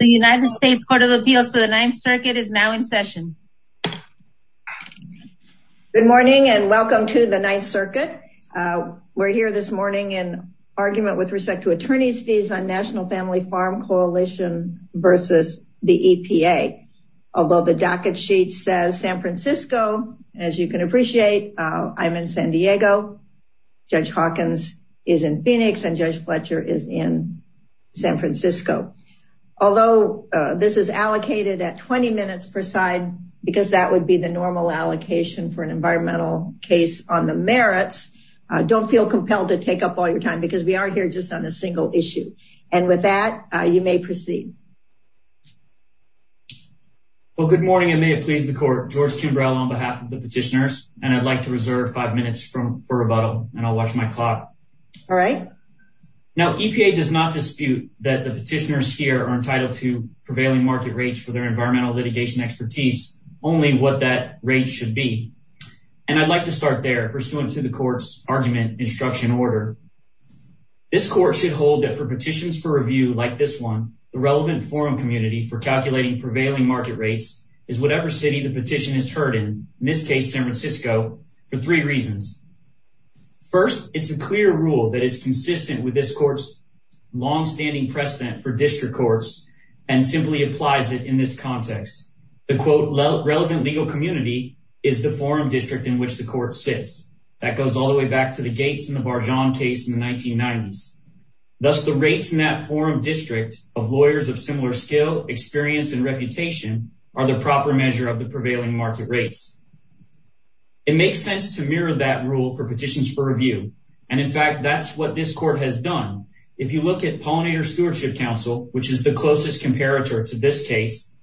The United States Court of Appeals for the Ninth Circuit is now in session. Good morning and welcome to the Ninth Circuit. We're here this morning in argument with respect to attorney's fees on National Family Farm Coalition versus the EPA. Although the docket sheet says San Francisco, as you can appreciate, I'm in San Diego. Judge Hawkins is in Phoenix and Judge Fletcher is in San Francisco. Although this is allocated at 20 minutes per side, because that would be the normal allocation for an environmental case on the merits, don't feel compelled to take up all your time because we aren't here just on a single issue. And with that, you may proceed. Well, good morning and may it please the court. George Kimbrell on behalf of the petitioners and I'd like to reserve five minutes for rebuttal and I'll watch my clock. All right. Now EPA does not dispute that the petitioners here are entitled to prevailing market rates for their environmental litigation expertise, only what that rate should be. And I'd like to start there pursuant to the court's argument instruction order. This court should hold that for petitions for review like this one, the relevant forum community for calculating prevailing market rates is whatever city the petition is heard in, in this case San Francisco, for three reasons. First, it's a clear rule that is consistent with this court's longstanding precedent for district courts and simply applies it in this context. The quote relevant legal community is the forum district in which the court sits. That goes all the way back to the Gates and the Barjon case in the 1990s. Thus the rates in that forum district of lawyers of similar skill, experience and reputation are the proper measure of the makes sense to mirror that rule for petitions for review. And in fact, that's what this court has done. If you look at pollinator stewardship council, which is the closest comparator to this case,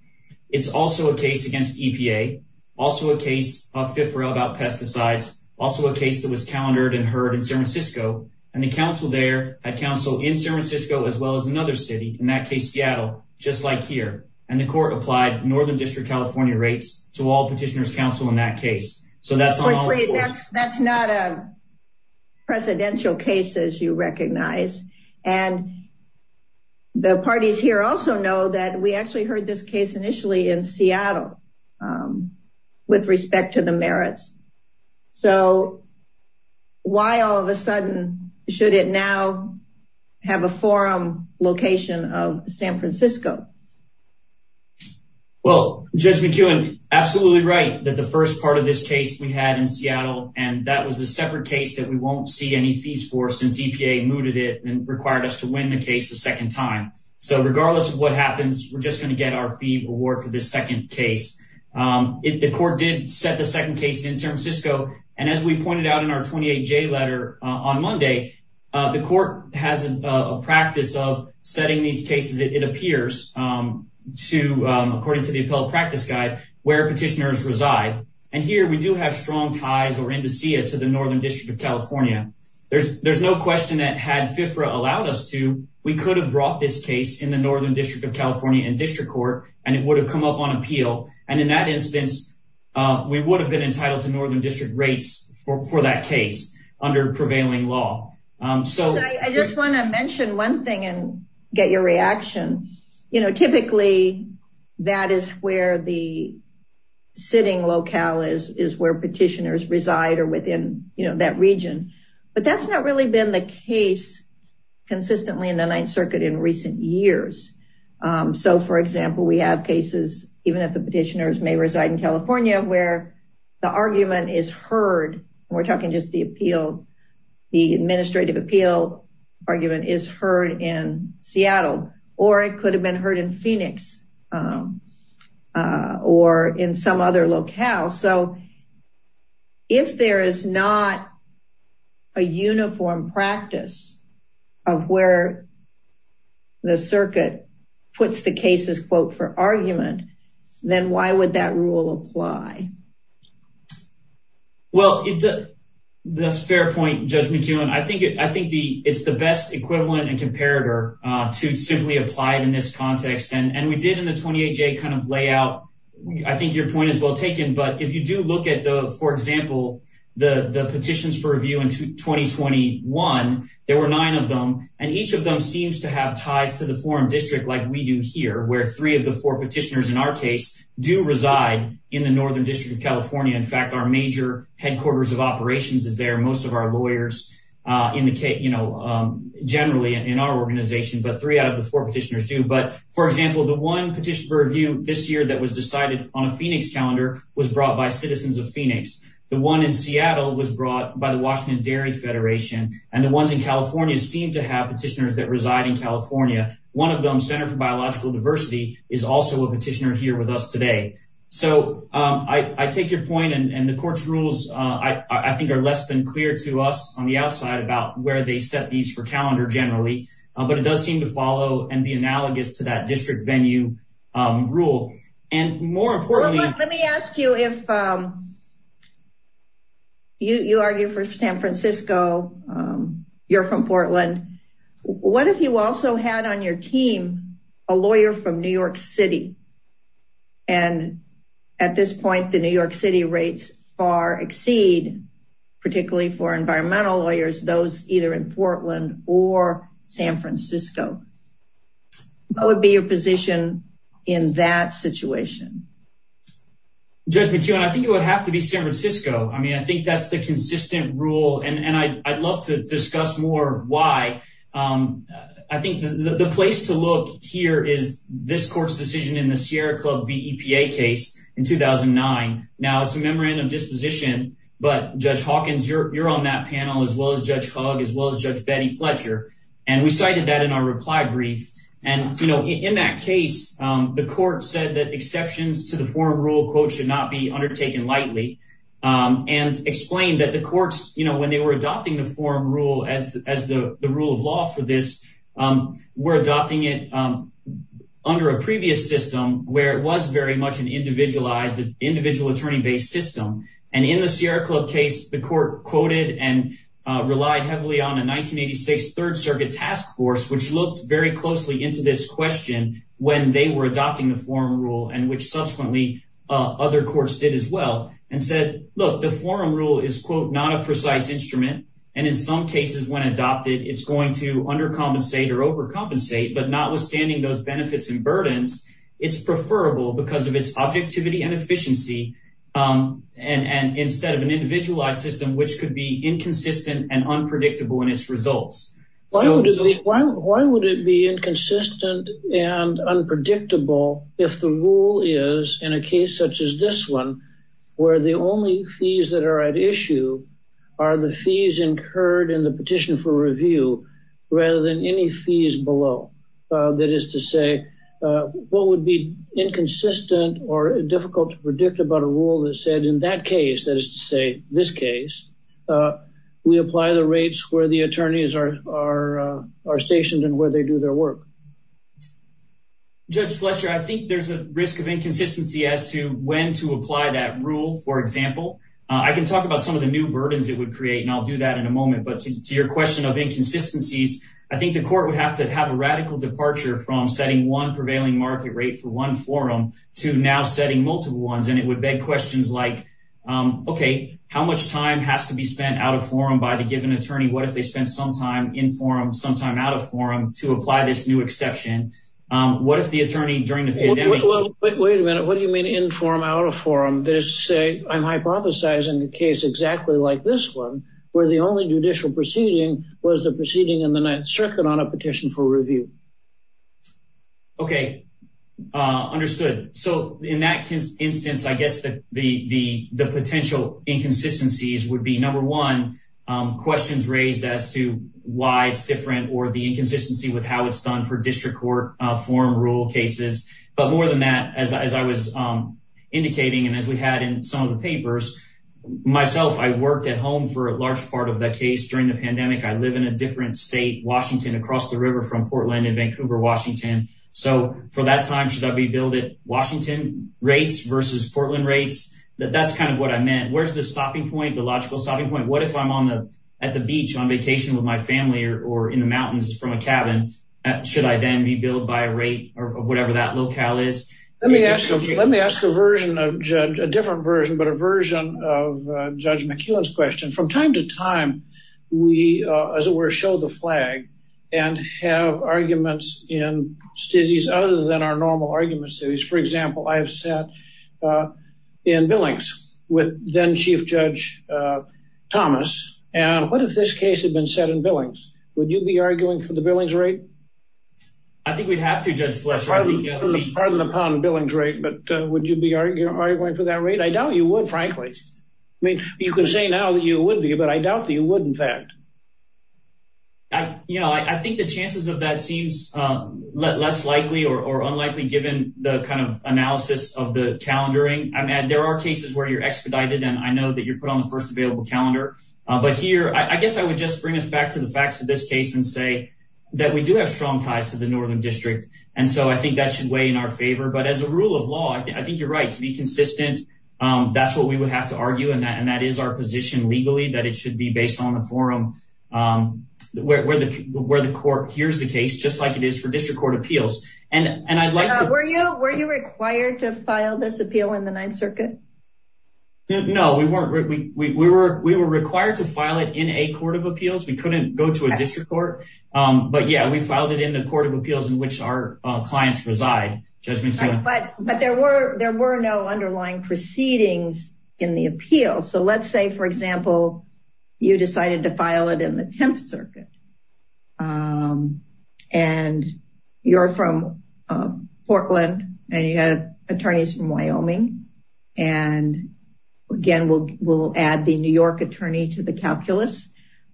it's also a case against EPA, also a case of fifth row about pesticides, also a case that was calendared and heard in San Francisco. And the council there at council in San Francisco, as well as another city in that case, Seattle, just like here. And the court applied Northern California rates to all petitioners council in that case. So that's, that's not a presidential case as you recognize. And the parties here also know that we actually heard this case initially in Seattle, um, with respect to the merits. So why all of a sudden should it now have a forum location of San Francisco? Well, Judge McKeown, absolutely right. That the first part of this case we had in Seattle, and that was a separate case that we won't see any fees for since EPA mooted it and required us to win the case a second time. So regardless of what happens, we're just going to get our fee reward for this second case. Um, it, the court did set second case in San Francisco. And as we pointed out in our 28 J letter on Monday, uh, the court has a practice of setting these cases. It appears, um, to, um, according to the appellate practice guide where petitioners reside. And here we do have strong ties or indices to the Northern district of California. There's, there's no question that had FIFRA allowed us to, we could have brought this case in the Northern district of California and district court, and it would have been entitled to Northern district rates for that case under prevailing law. Um, so I just want to mention one thing and get your reaction. You know, typically that is where the sitting locale is, is where petitioners reside or within that region, but that's not really been the case consistently in the ninth circuit in recent years. Um, so for example, we have cases, even if the petitioners may reside in California, where the argument is heard, we're talking just the appeal, the administrative appeal argument is heard in Seattle, or it could have been heard in Phoenix, um, uh, or in some other locale. So if there is not a uniform practice of where the circuit puts the cases quote for argument, then why would that rule apply? Well, that's a fair point, Judge McKeown. I think it, I think the, it's the best equivalent and comparator, uh, to simply apply it in this context. And we did in the 28J kind of layout, I think your point is well taken, but if you do look at the, for example, the, the petitions for review in 2021, there were nine of them and each of them seems to have ties to the forum district. Like we do here where three of the four petitioners in our case do reside in the Northern district of California. In fact, our major headquarters of operations is there. Most of our lawyers, uh, indicate, you know, um, generally in our organization, but three out of the four petitioners do. But for example, the one petition for review this year that was decided on a Phoenix calendar was brought by citizens of Phoenix. The one in Seattle was brought by the Washington dairy federation. And the ones in California seem to have petitioners that reside in California. One of them center for biological diversity is also a petitioner here with us today. So, um, I, I take your point and the court's rules, uh, I think are less than clear to us on the outside about where they set these for calendar generally, but it does seem to follow and be analogous to that district venue, um, rule. And more importantly, let me ask you if, um, you, you argue for San Francisco, um, you're from Portland. What if you also had on your team, a lawyer from New York city? And at this point, the New York city rates are exceed particularly for environmental lawyers, those either in Portland or San Francisco. What would be your position in that situation? Judge McKeon, I think it would have to be San Francisco. I mean, I think that's the consistent rule and I I'd love to discuss more why. Um, I think the, the place to look here is this court's decision in the Sierra club VEPA case in 2009. Now it's a memorandum disposition, but judge Hawkins, you're, you're on that panel as well as judge hog, as well as judge Betty Fletcher. And we cited that in our reply brief. And, you know, in that case, um, the court said that exceptions to the forum rule quote should not be undertaken lightly. Um, and explain that the courts, you know, when they were adopting the forum rule as, as the, the rule of law for this, um, we're adopting it, um, under a previous system where it was very much an individualized individual attorney based system. And in the Sierra club case, the court quoted and, uh, relied heavily on a 1986 third circuit task force, which looked very closely into this question when they were adopting the form rule and which subsequently, uh, other courts did as well and said, look, the forum rule is quote, not a precise instrument. And in some cases when adopted, it's going to undercompensate or overcompensate, but not withstanding those benefits and burdens it's preferable because of its objectivity and efficiency. Um, and, and instead of an individualized system, which could be why would it be inconsistent and unpredictable? If the rule is in a case such as this one, where the only fees that are at issue are the fees incurred in the petition for review, rather than any fees below, uh, that is to say, uh, what would be inconsistent or difficult to predict about a rule that said in that case, that is to say this case, uh, we apply the rates where the attorneys are, are, uh, are stationed and where they do their work. Judge Fletcher, I think there's a risk of inconsistency as to when to apply that rule. For example, I can talk about some of the new burdens it would create and I'll do that in a moment, but to your question of inconsistencies, I think the court would have to have a radical departure from setting one prevailing market rate for one forum to now setting multiple ones. And it would beg questions like, um, okay, how much time has to be spent out of forum by the given attorney? What if they spend some time in forum sometime out of forum to apply this new exception? Um, what if the attorney during the pandemic, wait a minute, what do you mean in form out of forum? That is to say I'm hypothesizing the case exactly like this one where the only judicial proceeding was the proceeding in the ninth circuit on a petition for review. Okay. Uh, understood. So in that instance, I guess the, the, the, the potential inconsistencies would be number one, um, questions raised as to why it's different or the inconsistency with how it's done for district court, uh, forum rule cases. But more than that, as I, as I was, um, indicating, and as we had in some of the papers myself, I worked at home for a large part of the case during the pandemic. I live in a different state, Washington across the river from Portland and Vancouver, Washington. So for that time, should I be billed at Washington rates versus Portland rates? That that's kind of what I meant. Where's the stopping point, the logical stopping point. What if I'm on the, at the beach on vacation with my family or in the mountains from a cabin, should I then be billed by a rate or whatever that locale is? Let me ask you, let me ask a version of judge, a different version, but a version of judge McKellen's question from time to time. We, uh, as it were, show the flag and have arguments in cities other than our normal arguments cities. For example, I have sat, uh, in Billings with then chief judge, uh, Thomas. And what if this case had been set in Billings, would you be arguing for the Billings rate? I think we'd have to judge the lesser. Pardon the pun, Billings rate, but would you be arguing for that rate? I doubt you would, frankly. I mean, you can say now that you would be, but I doubt that you would. In fact, I, you know, I, I think the chances of that seems, uh, less likely or, or unlikely given the kind of analysis of the calendaring. I mean, there are cases where you're expedited and I know that you're put on the first available calendar, uh, but here, I guess I would just bring us back to the facts of this case and say that we do have strong ties to the Northern district. And so I think that should weigh in our favor, but as a rule of law, I think you're right to be consistent. Um, that's what we would have to argue. And that, and that is our position legally that it should be based on the forum, um, where, where the, where the court hears the case, just like it is for district court appeals. And, and I'd like to, were you, were you required to file this appeal in the ninth circuit? No, we weren't. We, we were, we were required to file it in a court of appeals. We couldn't go to a district court. Um, but yeah, we filed it in the court of appeals in which our clients reside. But there were, there were no underlying proceedings in the appeal. So let's say for example, you decided to file it in the 10th circuit. Um, and you're from, uh, Portland and you had attorneys from Wyoming. And again, we'll, we'll add the New York attorney to the calculus.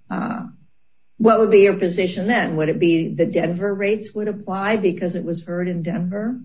Uh, what would be your position then? Would it be the Denver rates would apply because it was heard in Denver?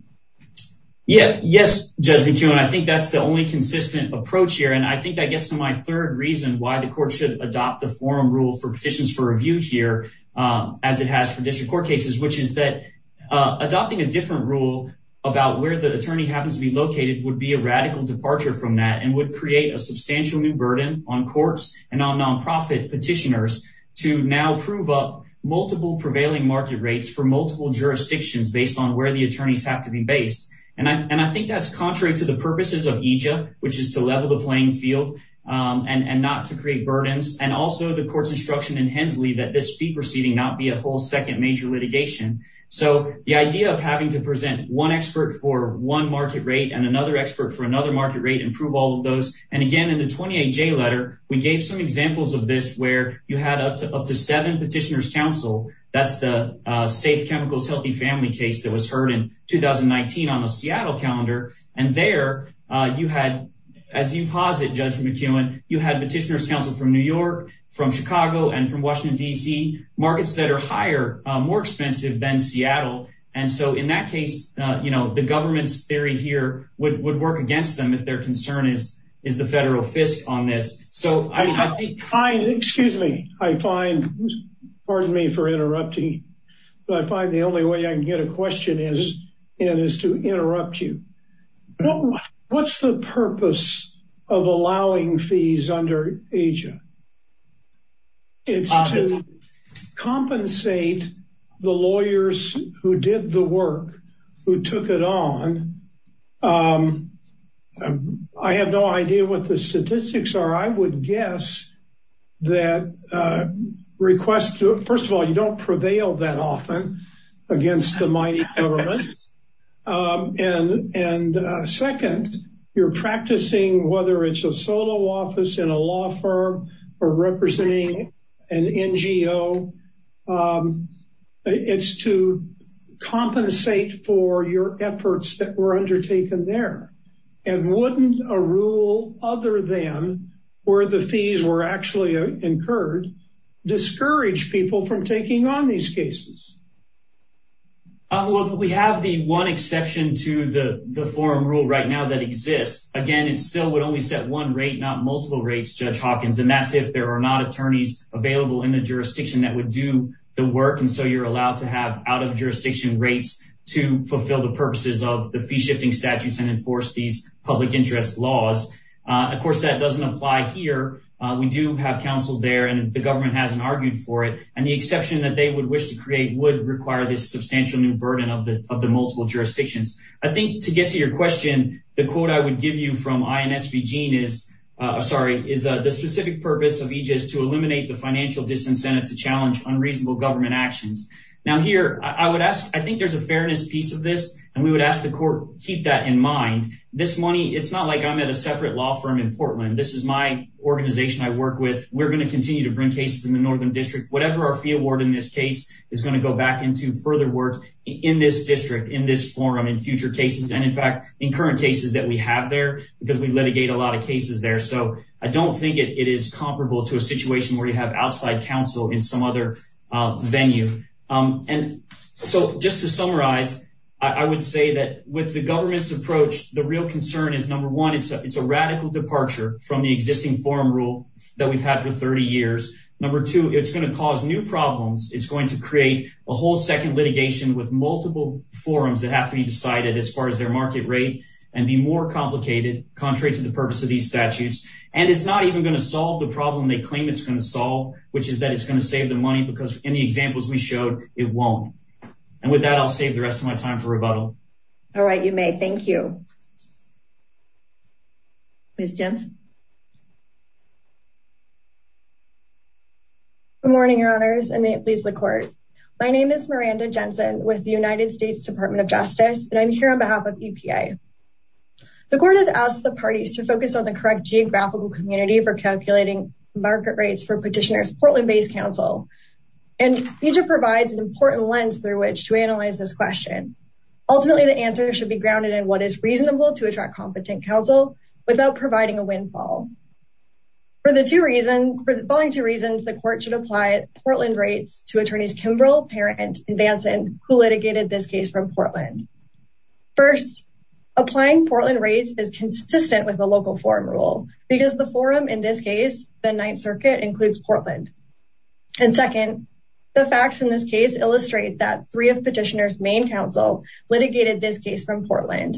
Yeah. Yes. Judge McEwen, I think that's the only consistent approach here. And I think that gets to my third reason why the court should adopt the forum rule for petitions for review here, um, as it has for district court cases, which is that, uh, adopting a different rule about where the attorney happens to be located would be a radical departure from that and would create a substantial new burden on courts and on nonprofit petitioners to now prove up multiple prevailing market rates for multiple jurisdictions based on where the attorneys have to be based. And I, and I think that's contrary to the purposes of Egypt, which is to level the playing field, um, and, and not to create burdens and also the court's instruction in Hensley that this fee proceeding not be a whole second major litigation. So the idea of having to present one expert for one market rate and another expert for another market rate and prove all of those. And again, in the 28 J letter, we gave some examples of this where you had up to, up to seven petitioners council. That's the, uh, safe chemicals, healthy family case that was heard in 2019 on the Seattle calendar. And there, uh, you had, as you posit judge McEwen, you had petitioners council from New York, from Chicago and from Washington, DC markets that are higher, uh, more expensive than Seattle. And so in that case, uh, you know, the government's theory here would, would work against them if their concern is, is the federal fisc on this. So I find, excuse me, I find, pardon me for interrupting, but I find the only way I can get a question is, and is to interrupt you. What's the purpose of allowing fees under Asia? It's to compensate the lawyers who did the work, who took it on. Um, I have no idea what the statistics are. I would guess that, uh, request to, first of all, you don't prevail that often against the mighty government. Um, and, and, uh, second, you're practicing, whether it's a solo office in a law firm or representing an NGO, um, it's to compensate for your efforts that were undertaken there. And wouldn't a rule other than where the fees were actually incurred, discourage people from taking on these cases? Um, well, we have the one exception to the, the forum rule right now that exists again, and still would only set one rate, not multiple rates, judge Hawkins. And that's if there are not attorneys available in the jurisdiction that would do the work. And so you're allowed to have out of jurisdiction rates to fulfill the purposes of the fee shifting statutes and enforce these public interest laws. Uh, of course that doesn't apply here. Uh, we do have counsel there and the government hasn't argued for it. And the exception that they would wish to create would require this substantial new burden of the, of the multiple jurisdictions. I think to get to your question, the quote I would give you from INSVG is, uh, I'm sorry, is, uh, the specific purpose of EGIS to eliminate the financial disincentive to challenge unreasonable government actions. Now here I would ask, I think there's a fairness piece of this, and we would ask the court, keep that in mind. This money, it's not like I'm at a separate law firm in Portland. This is my organization I work with. We're going to continue to bring cases in the Northern district, whatever our fee award in this case is going to go back into further work in this district, in this forum, in future cases. And in fact, in current cases that we have there, because we litigate a lot of cases there. So I don't think it is comparable to a situation where you have outside counsel in some other venue. Um, and so just to summarize, I would say that with the government's approach, the real concern is number one, it's a, it's a radical departure from the existing forum rule that we've had for 30 years. Number two, it's going to cause new problems. It's going to create a whole second litigation with multiple forums that have to be decided as far as their market rate and be more complicated, contrary to the purpose of these statutes. And it's not even going to solve the problem they claim it's going to solve, which is that it's going to save them money because in the examples we showed it won't. And with that, I'll save the rest of my time for rebuttal. All right. You may. Thank you. Good morning, your honors. And may it please the court. My name is Miranda Jensen with the United States department of justice, and I'm here on behalf of EPA. The court has asked the parties to focus on the correct geographical community for calculating market rates for petitioners, Portland based counsel, and you just provides an important lens through which to what is reasonable to attract competent counsel without providing a windfall for the two reasons, for the following two reasons, the court should apply Portland rates to attorneys, Kimbrough, parent and Vanson who litigated this case from Portland. First applying Portland rates is consistent with the local forum rule because the forum, in this case, the ninth circuit includes Portland. And second, the facts in this case illustrate that three of petitioners, main litigated this case from Portland.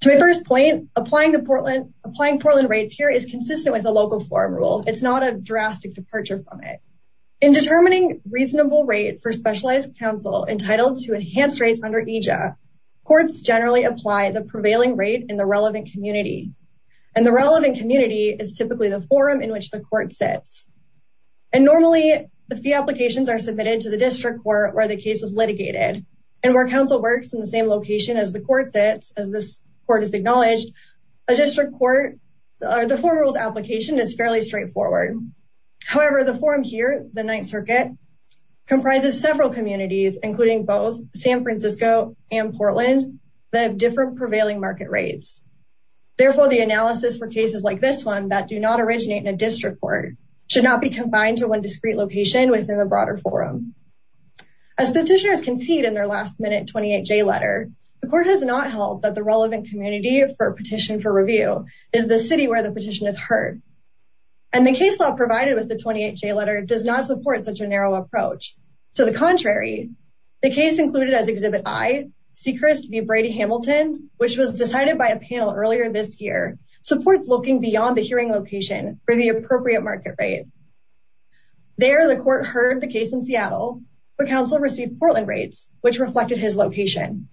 To my first point, applying the Portland, applying Portland rates here is consistent with the local forum rule. It's not a drastic departure from it in determining reasonable rate for specialized counsel entitled to enhance rates under EJ. Courts generally apply the prevailing rate in the relevant community. And the relevant community is typically the forum in which the court sets. And normally the fee applications are submitted to the district court where the case was litigated. And where counsel works in the same location as the court sits, as this court is acknowledged, a district court or the forum rules application is fairly straightforward. However, the forum here, the ninth circuit comprises several communities, including both San Francisco and Portland that have different prevailing market rates. Therefore, the analysis for cases like this one that do not originate in the broader forum. As petitioners concede in their last minute 28J letter, the court has not held that the relevant community for a petition for review is the city where the petition is heard. And the case law provided with the 28J letter does not support such a narrow approach. To the contrary, the case included as exhibit I, Seacrest v. Brady Hamilton, which was decided by a panel earlier this year, supports looking beyond the hearing location for the appropriate market rate. There, the court heard the case in Seattle, but counsel received Portland rates, which reflected his location.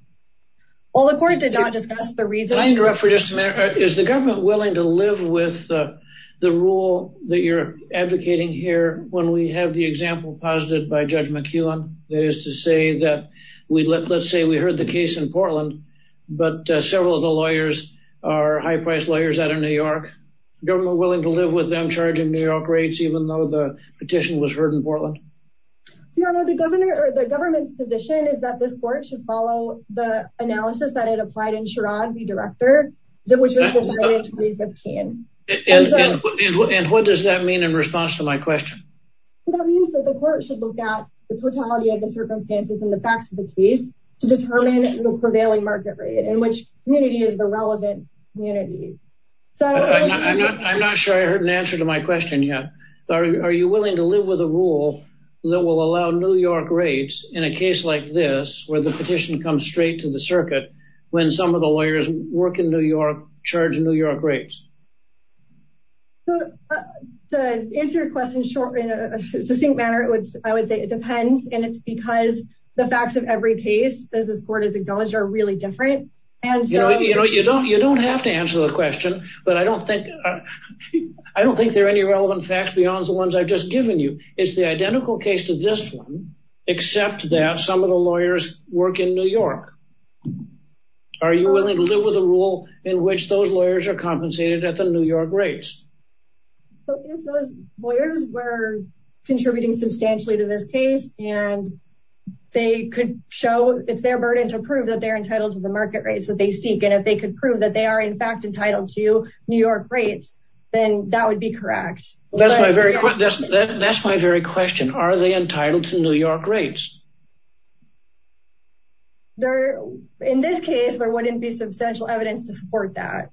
While the court did not discuss the reason... Can I interrupt for just a minute? Is the government willing to live with the rule that you're advocating here when we have the example posited by Judge McKeown, that is to say that we let, let's say we heard the case in Portland, but several of the lawyers are high price lawyers out of New York. Government willing to live with them, charging New York rates, even though the petition was heard in Portland? The governor or the government's position is that this court should follow the analysis that it applied in Sherrod v. Director, which was decided in 2015. And what does that mean in response to my question? That means that the court should look at the totality of the circumstances and the facts of the case to determine the prevailing market rate in which community is the relevant community. I'm not sure I heard an answer to my question yet. Are you willing to live with a rule that will allow New York rates in a case like this, where the petition comes straight to the circuit, when some of the lawyers work in New York, charge New York rates? To answer your question in a succinct manner, I would say it depends. And it's because the facts of every case, as this court has acknowledged, are really different. And so, you know, you don't, you don't have to answer the question, but I don't think, I don't think there are any relevant facts beyond the ones I've just given you. It's the identical case to this one, except that some of the lawyers work in New York. Are you willing to live with a rule in which those lawyers are compensated at the New York rates? So if those lawyers were contributing substantially to this case, and they could show, it's their burden to prove that they're entitled to the market rates that they seek. And if they could prove that they are in fact entitled to New York rates, then that would be correct. That's my very, that's my very question. Are they entitled to New York rates? In this case, there wouldn't be substantial evidence to support that.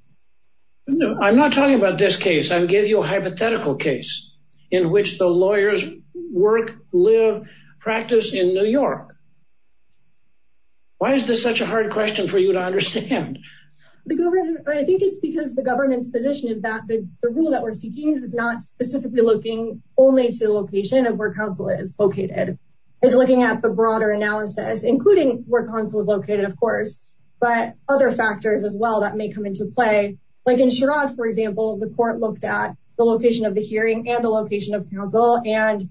I'm not talking about this case. I'm giving you a hypothetical case in which the lawyers work, live, practice in New York. Why is this such a hard question for you to understand? I think it's because the government's position is that the rule that we're seeking is not specifically looking only to the location of where counsel is located. It's looking at the broader analysis, including where counsel is located, of course, but other factors as well that may come into play. Like in Sherrod, for example, the court looked at the location of the hearing and the location of counsel, and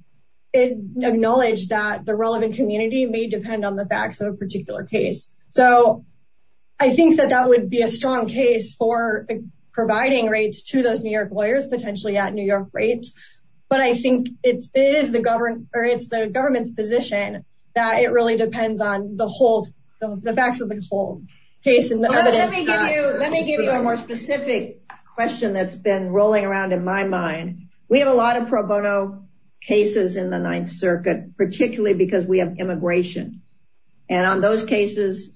it acknowledged that the relevant community may depend on the facts of a particular case. So I think that that would be a strong case for providing rates to those New York lawyers, potentially at New York rates. But I think it's the government's position that it really depends on the facts of the whole case. Let me give you a more specific question that's been rolling around in my mind. We have a lot of pro bono cases in the Ninth Circuit, particularly because we have immigration. And on those cases,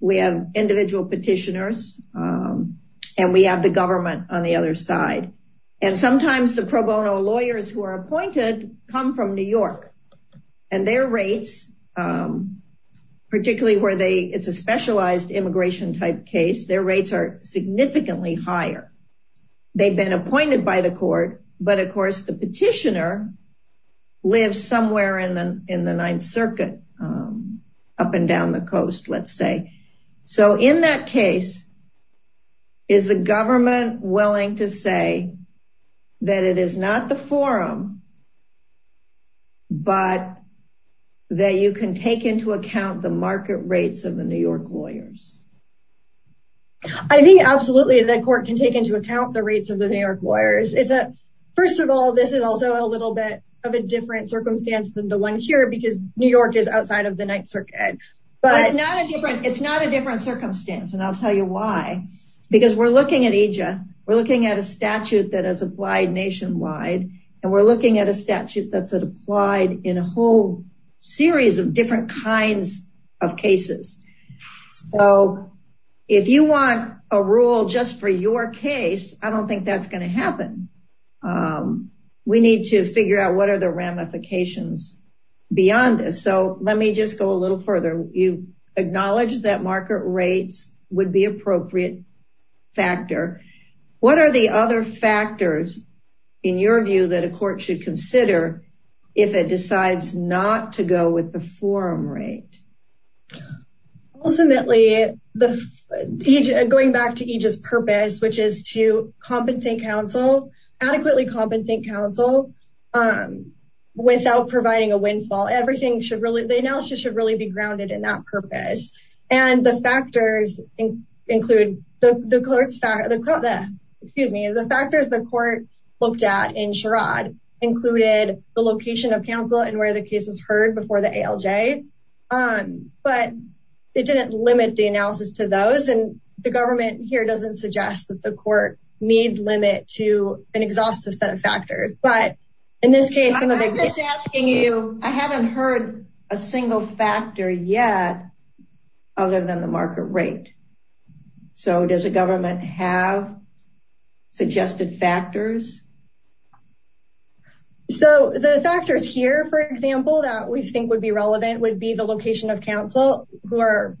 we have individual petitioners, and we have the government on the other side. And sometimes the pro bono lawyers who are appointed come from New York, and their rates, particularly where it's a specialized immigration type case, their rates are significantly higher. They've been appointed by the court, but of course, the petitioner lives somewhere in the Ninth Circuit, up and down the coast, let's say. So in that case, is the government willing to say that it is not the forum, but that you can take into account the market rates of the New York lawyers? I think absolutely, the court can take into account the rates of the New York lawyers. First of all, this is also a little bit of a different circumstance than the one here, because New York is outside of the Ninth Circuit. But it's not a different circumstance. And I'll tell you why. Because we're looking at EJA, we're looking at a statute that is applied nationwide. And we're looking at a statute that's applied in a whole series of different kinds of cases. So if you want a rule just for your case, I don't think that's going to happen. We need to figure out what are the ramifications beyond this. So let me just go a little further. You acknowledge that market rates would be appropriate factor. What are the other factors, in your view, that a court should consider if it decides not to go with the forum rate? Ultimately, going back to EJA's purpose, to adequately compensate counsel without providing a windfall. The analysis should really be grounded in that purpose. The factors the court looked at in Sherrod included the location of counsel and where the case was heard before the ALJ. But it didn't limit the analysis to those. And the government here doesn't suggest that the court need limit to an exhaustive set of factors. But in this case... I'm just asking you, I haven't heard a single factor yet other than the market rate. So does the government have suggested factors? So the factors here, for example, the location of counsel who are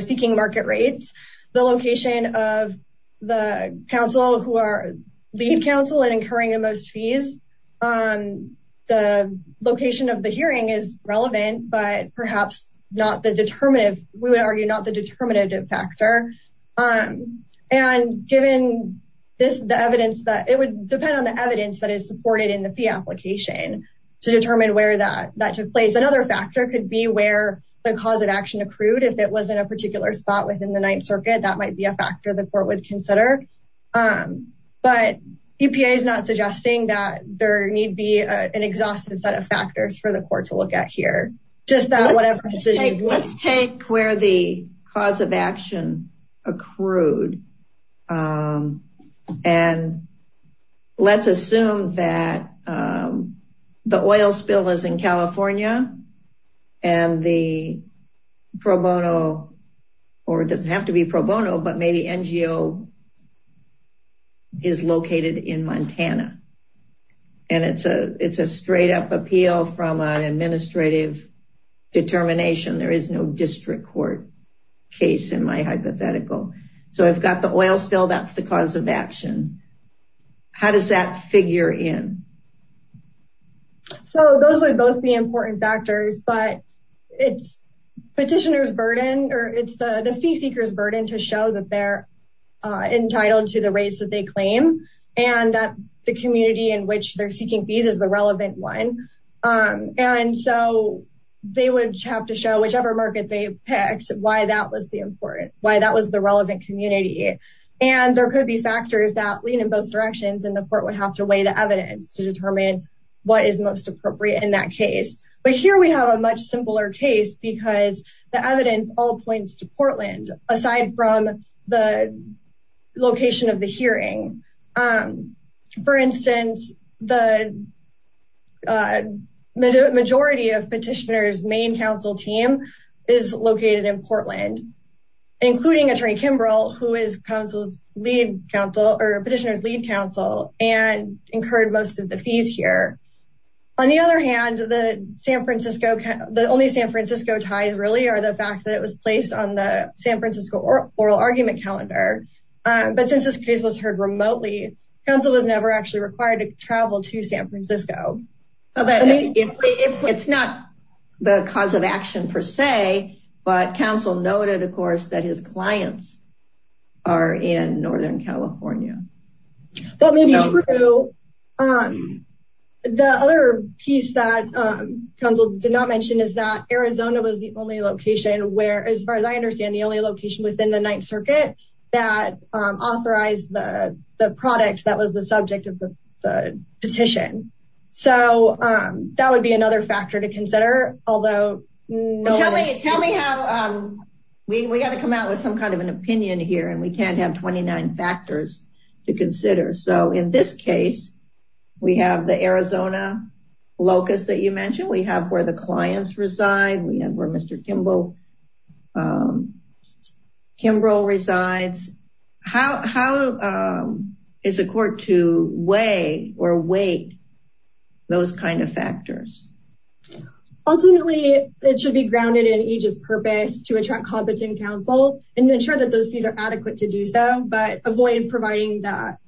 seeking market rates, the location of the counsel who are lead counsel and incurring the most fees, the location of the hearing is relevant, but perhaps not the determinative. We would argue not the determinative factor. And given this, the evidence that it would depend on the evidence that is supported in the fee application to determine where that took place. Another factor could be where the cause of action accrued. If it was in a particular spot within the Ninth Circuit, that might be a factor the court would consider. But EPA is not suggesting that there need be an exhaustive set of factors for the court to look at here. Just that whatever... Let's take where the cause of action accrued. And let's assume that the oil spill is in California and the pro bono, or it doesn't have to be pro bono, but maybe NGO is located in Montana. And it's a straight up appeal from an administrative determination. There is no district court case in my hypothetical. So I've got the oil spill, that's the cause of action. How does that figure in? So those would both be important factors, but it's petitioner's burden or it's the fee seeker's burden to show that they're entitled to the rates that they claim and that the community in which they're seeking fees is the relevant one. And so they would have to show whichever market they picked, why that was the relevant community. And there could be factors that lean in both directions and the court would have to weigh the evidence to determine what is most appropriate in that case. But here we have a much simpler case because the evidence all points to the majority of petitioner's main council team is located in Portland, including attorney Kimbrell, who is petitioner's lead counsel and incurred most of the fees here. On the other hand, the only San Francisco ties really are the fact that it was placed on the San Francisco oral argument calendar. But since this case was heard remotely, counsel was never actually required to travel to San Francisco. It's not the cause of action per se, but counsel noted, of course, that his clients are in Northern California. That may be true. The other piece that counsel did not mention is that Arizona was the only location where, as far as I understand, the only location within the Ninth Circuit that was the subject of the petition. So that would be another factor to consider. We got to come out with some kind of an opinion here and we can't have 29 factors to consider. So in this case, we have the Arizona locus that you mentioned. We have where the court to weigh or weight those kind of factors. Ultimately, it should be grounded in each's purpose to attract competent counsel and ensure that those fees are adequate to do so, but avoid providing that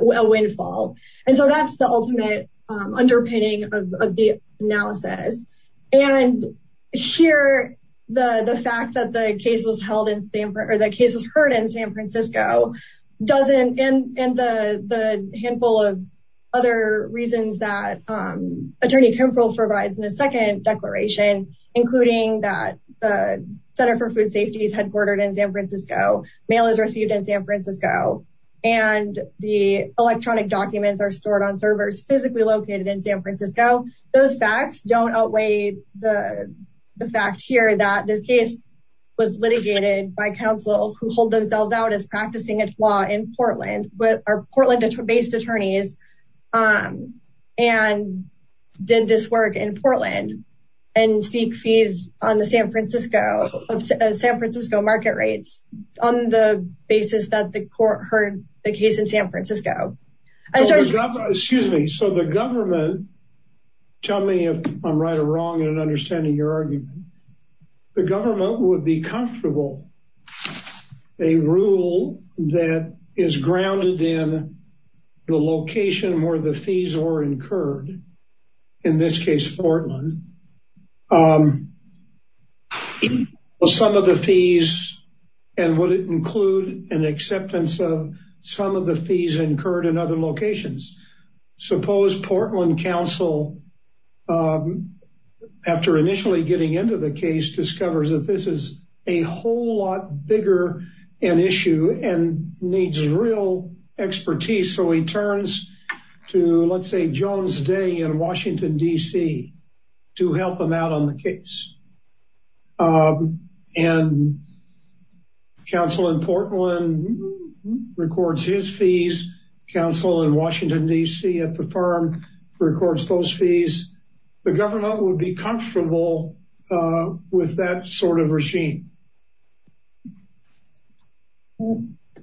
windfall. And so that's the ultimate underpinning of the analysis. And here, the fact that the case was heard in San Francisco doesn't end the handful of other reasons that Attorney Kimbrough provides in a second declaration, including that the Center for Food Safety is headquartered in San Francisco, mail is received in San Francisco, and the electronic documents are stored on servers physically located in San Francisco. Those facts don't outweigh the fact here that this case was litigated by counsel who hold themselves out as practicing its law in Portland with our Portland-based attorneys and did this work in Portland and seek fees on the San Francisco market rates on the basis that the court heard the case in San Francisco. Excuse me, so the government, tell me if I'm right or wrong in understanding your argument, the government would be comfortable a rule that is grounded in the location where the fees were incurred, in this case, Portland. Some of the fees, and would it include an acceptance of some of the fees incurred in other locations? Suppose Portland counsel, after initially getting into the case, discovers that this is a whole lot bigger an issue and needs real expertise, so he turns to, let's say, Jones Day in Washington, D.C. to help him out on the case. And counsel in Portland records his fees, counsel in Washington, D.C. at the firm records those fees. The government would be comfortable with that sort of regime.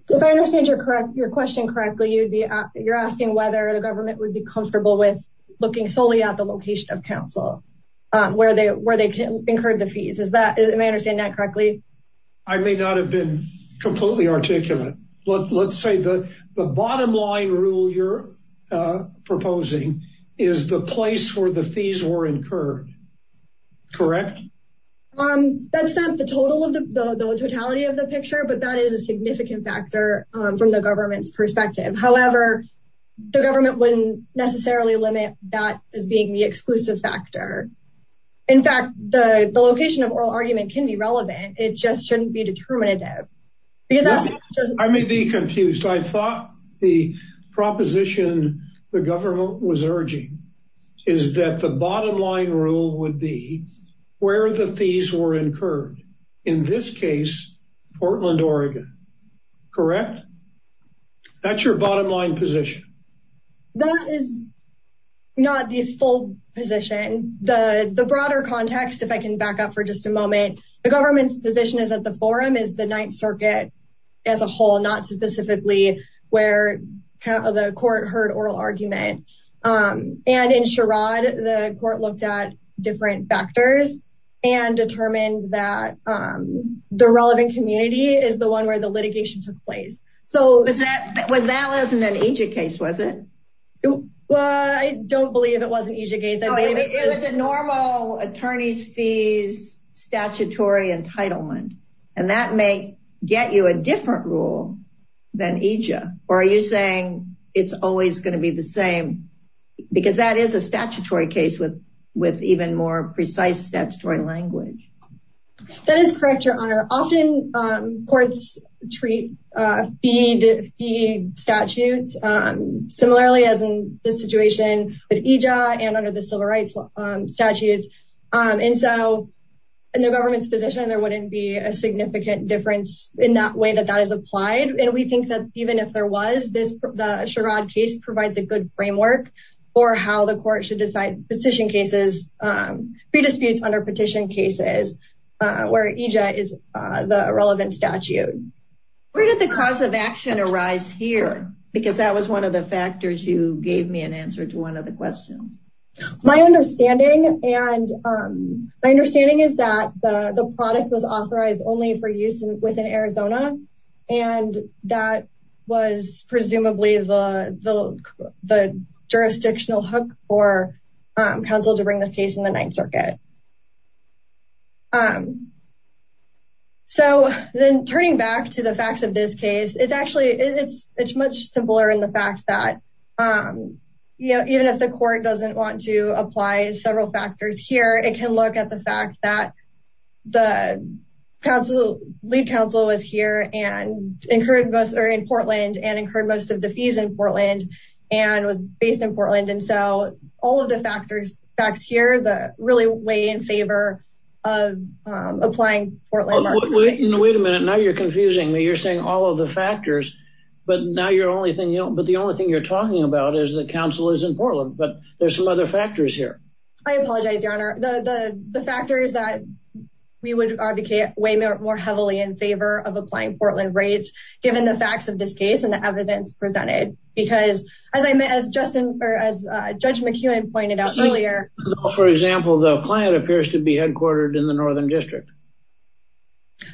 If I understand your question correctly, you're asking whether the government would be comfortable with looking solely at the location of counsel where they incurred the fees. Is that, am I understanding that correctly? I may not have been completely articulate. Let's say the bottom line rule you're proposing is the place where the fees were incurred, correct? That's not the totality of the picture, but that is a government wouldn't necessarily limit that as being the exclusive factor. In fact, the location of oral argument can be relevant, it just shouldn't be determinative. I may be confused. I thought the proposition the government was urging is that the bottom line rule would be where the fees were incurred, in this case, Portland, Oregon, correct? That's your bottom line position. That is not the full position. The broader context, if I can back up for just a moment, the government's position is that the forum is the Ninth Circuit as a whole, not specifically where the court heard oral argument. And in Sherrod, the court looked at different factors and determined that the relevant community is one where the litigation took place. That wasn't an EJIA case, was it? Well, I don't believe it wasn't an EJIA case. It was a normal attorney's fees, statutory entitlement. And that may get you a different rule than EJIA. Or are you saying it's always going to be the same? Because that is a statutory case with even more precise statutory language. That is correct, Your Honor. Often, courts treat fee statutes. Similarly, as in the situation with EJIA and under the civil rights statutes. And so, in the government's position, there wouldn't be a significant difference in that way that that is applied. And we think that even if there was, the Sherrod case provides a good framework for how the court should decide petition cases, free disputes under petition cases, where EJIA is the relevant statute. Where did the cause of action arise here? Because that was one of the factors you gave me an answer to one of the questions. My understanding is that the product was authorized only for use within Arizona. And that was presumably the jurisdictional hook for counsel to bring this case in the Ninth Circuit. So then turning back to the facts of this case, it's much simpler in the fact that even if the court doesn't want to apply several factors here, it can look at the the counsel, lead counsel was here and incurred most are in Portland and incurred most of the fees in Portland and was based in Portland. And so all of the factors facts here that really weigh in favor of applying Portland. Wait a minute. Now you're confusing me. You're saying all of the factors. But now your only thing you know, but the only thing you're talking about is the counsel is in Portland. But there's some other factors here. I apologize, Your Honor. The factors that we would advocate way more heavily in favor of applying Portland rates, given the facts of this case and the evidence presented, because as I met as Justin or as Judge McEwen pointed out earlier, for example, the client appears to be headquartered in the Northern District.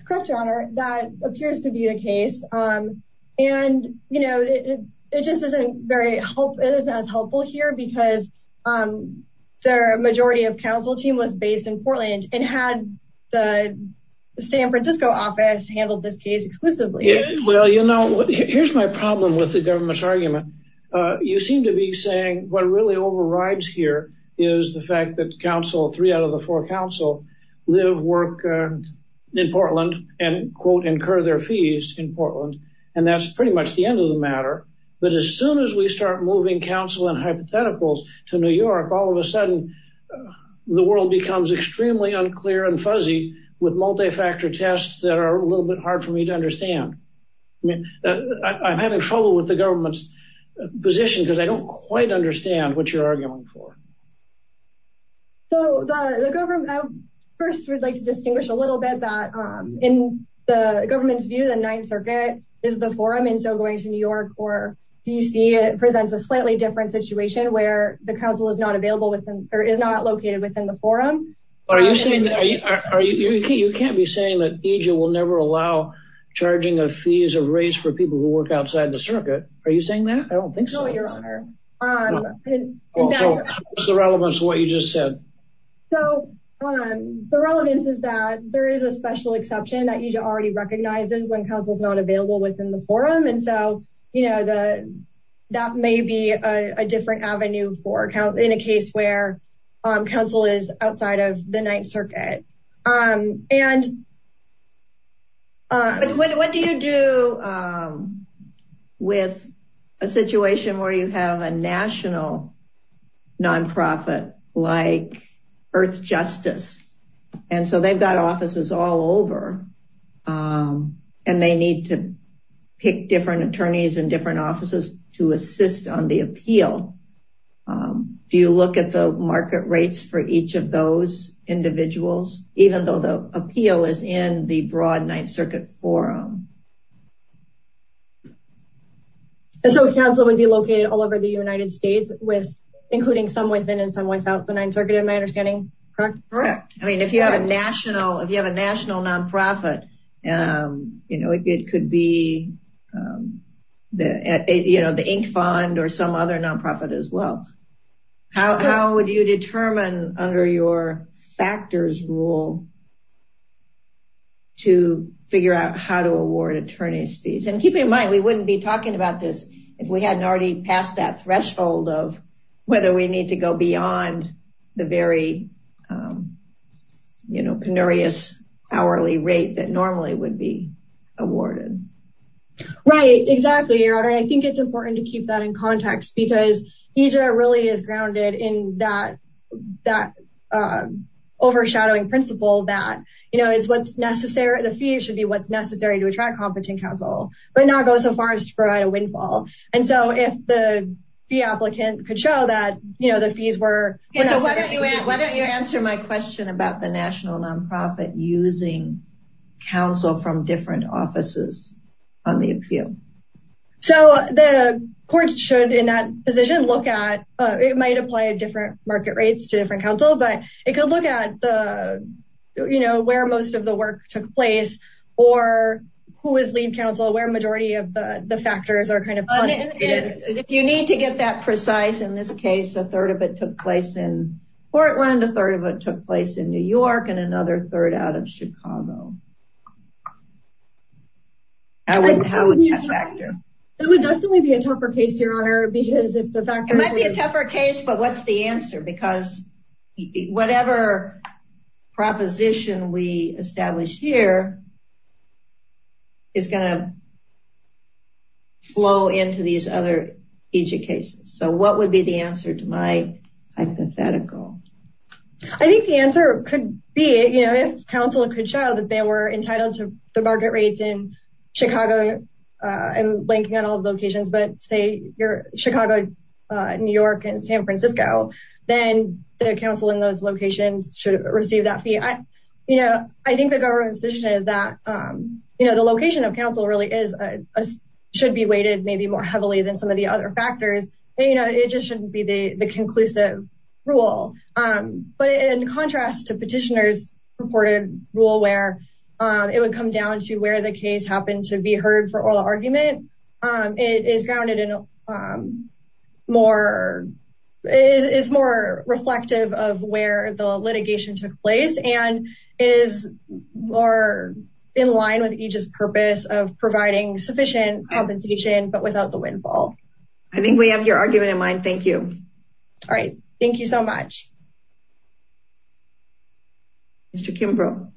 Correct, Your Honor, that appears to be the case. And, you know, it just isn't as helpful here because the majority of counsel team was based in Portland and had the San Francisco office handled this case exclusively. Well, you know, here's my problem with the government's argument. You seem to be saying what really overrides here is the fact that counsel, three out of the four counsel, live, work in Portland and, quote, incur their fees in Portland. And that's pretty much the end of the matter. But as soon as we start moving counsel and hypotheticals to New York, all of a sudden the world becomes extremely unclear and fuzzy with multifactor tests that are a little bit hard for me to understand. I mean, I'm having trouble with the government's position because I don't quite understand what you're arguing for. So the government first would like to distinguish a little bit that in the government's view, the Ninth Circuit is the forum. And so going to New York or D.C., it presents a slightly different situation where the counsel is not available within or is not located within the forum. You can't be saying that EJIA will never allow charging of fees or rates for people who work outside the circuit. Are you saying that? I don't think so, Your Honor. What's the relevance of what you just said? So the relevance is that there is a special exception that EJIA already recognizes when counsel is not available within the forum. And so, you know, that may be a different avenue in a case where counsel is outside of the Ninth Circuit. What do you do with a situation where you have a national non-profit like Earth Justice? And so they've got offices all over and they need to pick different attorneys and different offices to assist on the appeal. Do you look at the market rates for each of those individuals, even though the appeal is in the broad Ninth Circuit forum? And so counsel would be located all over the United States with including some within and without the Ninth Circuit in my understanding, correct? Correct. I mean, if you have a national if you have a national non-profit, you know, it could be, you know, the Inc. Fund or some other non-profit as well. How would you determine under your factors rule to figure out how to award attorney's fees? And keep in mind, we wouldn't be talking about this if we hadn't already passed that threshold of whether we need to go beyond the very, you know, penurious hourly rate that normally would be awarded. Right, exactly. I think it's important to keep that in context because EJR really is grounded in that overshadowing principle that, you know, it's what's necessary. The fee should be what's necessary to attract competent counsel, but not go so far as to provide a windfall. And so if the fee applicant could show that, you know, the fees were... Why don't you answer my question about the national non-profit using counsel from different offices on the appeal? So the court should in that position look at, it might apply a different market rates to different counsel, but it could look at the, you know, where most of the work took place or who is lead counsel, where majority of the factors are kind of... If you need to get that precise, in this case, a third of it took place in Portland, a third of it took place in New York, and another third out of Chicago. How would that factor? It would definitely be a tougher case, Your Honor, because if the factors... It would be a tougher case, but what's the answer? Because whatever proposition we establish here is going to flow into these other EJR cases. So what would be the answer to my hypothetical? I think the answer could be, you know, if counsel could show that they were entitled to the market rates in Chicago, I'm blanking on all the locations, but say Chicago, New York, and San Francisco, then the counsel in those locations should receive that fee. You know, I think the government's position is that, you know, the location of counsel really is, should be weighted maybe more heavily than some of the other factors. You know, it just shouldn't be the conclusive rule, but in contrast to petitioners' purported rule where it would come down to where the case happened to be heard for oral argument, it is grounded in a more, is more reflective of where the litigation took place, and it is more in line with each's purpose of providing sufficient compensation, but without the windfall. I think we have your argument in mind. Thank you. All right. Thank you so much. Mr. Kimbrough.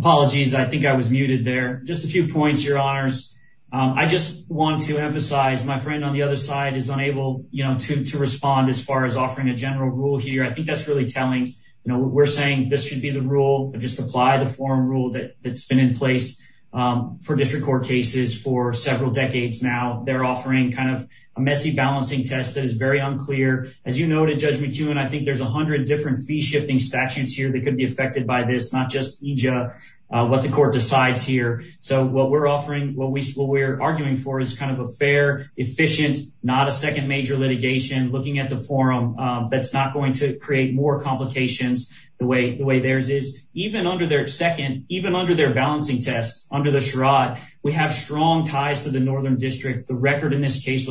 Apologies. I think I was muted there. Just a few points, Your Honors. I just want to emphasize, my friend on the other side is unable, you know, to respond as far as offering a general rule here. I think that's really telling. You know, we're saying this should be the rule, just apply the forum rule that's been in place for district court cases for several decades now. They're offering kind of a messy balancing test that is very unclear. As you noted, Judge McEwen, I think there's a hundred different fee-shifting statutes here that could be affected by this, not just EJIA, what the court decides here. So what we're offering, what we're arguing for is kind of a fair, efficient, not a second major litigation, looking at the forum, that's not going to create more complications the way theirs is. Even under their second, even under their balancing test, under the charade, we have strong ties to the Northern District. The record in this case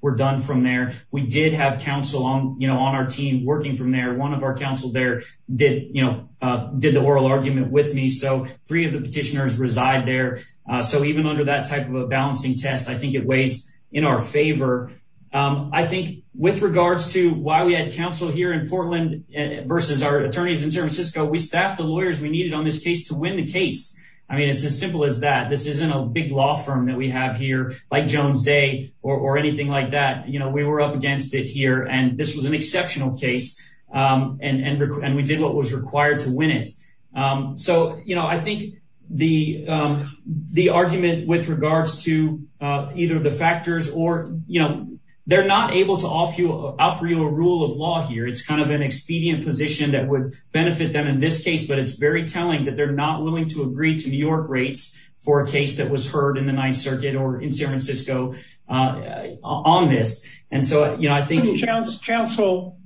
were done from there. We did have counsel on, you know, on our team working from there. One of our counsel there did, you know, did the oral argument with me. So three of the petitioners reside there. So even under that type of a balancing test, I think it weighs in our favor. I think with regards to why we had counsel here in Portland versus our attorneys in San Francisco, we staffed the lawyers we needed on this case to win the case. I mean, it's as simple as that. This isn't a big law firm that we have here like Jones Day or anything like that. You know, we were up against it here and this was an exceptional case and we did what was required to win it. So, you know, I think the argument with regards to either the factors or, you know, they're not able to offer you a rule of law here. It's kind of an expedient position that would benefit them in this case, but it's very telling that they're not willing to agree to New York rates for a case that was heard in the Ninth Circuit or in San Francisco on this. And so, you know, I think... Counsel,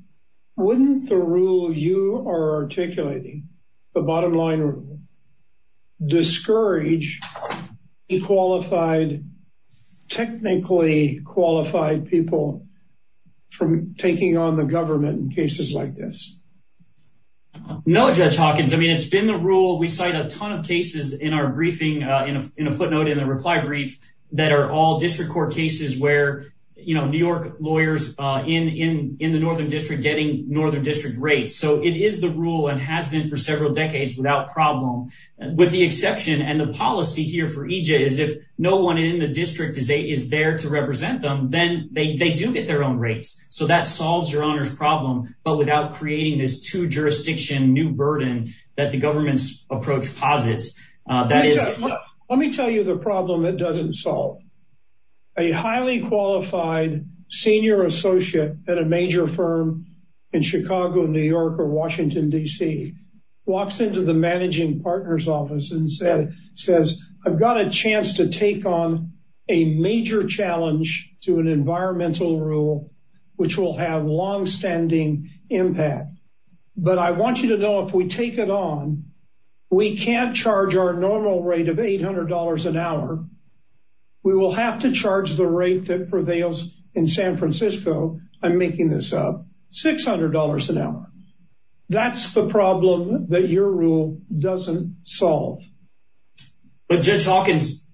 wouldn't the rule you are articulating, the bottom line rule, discourage qualified, technically qualified people from taking on the government in cases like this? No, Judge Hawkins. I mean, it's been the rule. We cite a ton of cases in our briefing, in a footnote in the reply brief, that are all district court cases where, you know, New York lawyers in the Northern District getting Northern District rates. So it is the rule and has been for several decades without problem. With the exception and the policy here for EJ is if no one in the district is there to represent them, then they do get their own rates. So that solves your honors problem, but without creating this two jurisdiction new burden that the government's approach posits. Let me tell you the problem that doesn't solve. A highly qualified senior associate at a major firm in Chicago, New York, or Washington, D.C. walks into the managing partners office and says, I've got a chance to take on a major challenge to an environmental rule, which will have longstanding impact. But I want you to know if we take it on, we can't charge our normal rate of $800 an hour. We will have to charge the rate that prevails in San Francisco. I'm making this up, $600 an hour. That's the problem that your rule doesn't solve. But Judge Hawkins,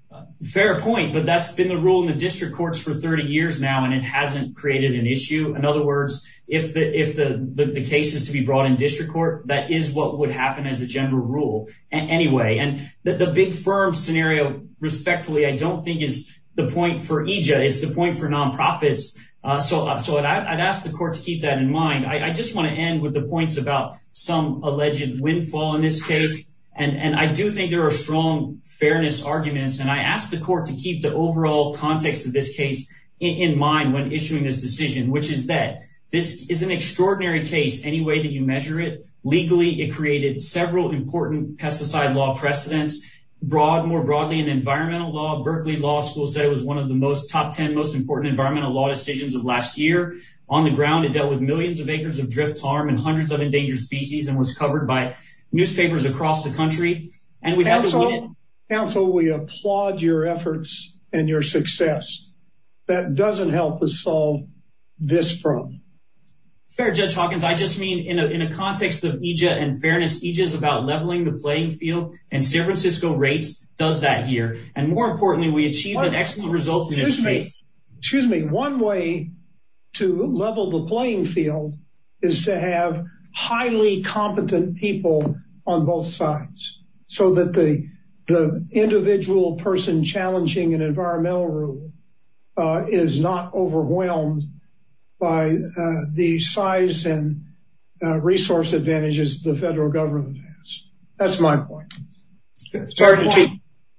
fair point, but that's been the rule in the district courts for 30 years now, and it hasn't created an issue. In other words, if the case is to be brought in district court, that is what would happen as a general rule anyway. And the big firm scenario, respectfully, I don't think is the point for EJ. It's the point for nonprofits. So I'd ask the court to keep that in mind. I just want to end with the points about some alleged windfall in this case. And I do think there are strong fairness arguments. And I ask the court to keep the overall context of this case in mind when issuing this decision, which is that this is an extraordinary case any way that you measure it. Legally, it created several important pesticide law precedents. More broadly, in environmental law, Berkeley Law School said it was one of the top 10 most important environmental law decisions of last year. On the ground, it dealt with millions of acres of drift farm and hundreds of endangered species and was covered by newspapers across the country. And we've had to that doesn't help us solve this problem. Fair Judge Hawkins, I just mean in a context of EJ and fairness, EJ is about leveling the playing field and San Francisco rates does that here. And more importantly, we achieved an excellent result in this case. Excuse me. One way to level the playing field is to have highly competent people on both sides so that the individual person challenging an environmental rule is not overwhelmed by the size and resource advantages the federal government has. That's my point.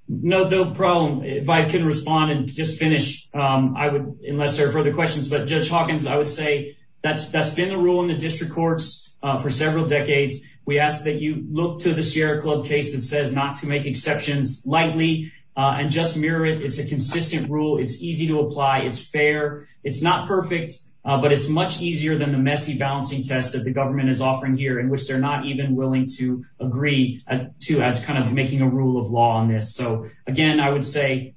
No, no problem. If I can respond and just finish, I would unless there are further questions. But Judge Hawkins, I would say that's been the rule in the district courts for several decades. We ask that you look to the Sierra Club case that not to make exceptions lightly and just mirror it. It's a consistent rule. It's easy to apply. It's fair. It's not perfect, but it's much easier than the messy balancing test that the government is offering here in which they're not even willing to agree to as kind of making a rule of law on this. So again, I would say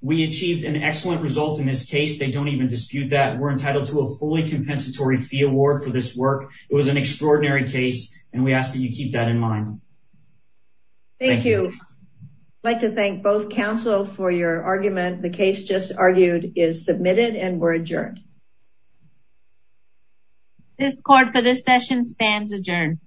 we achieved an excellent result in this case. They don't even dispute that we're entitled to a fully compensatory fee award for this work. It was an extraordinary case and we ask that you keep that in mind. Thank you. I'd like to thank both counsel for your argument. The case just argued is submitted and we're adjourned. This court for this session stands adjourned.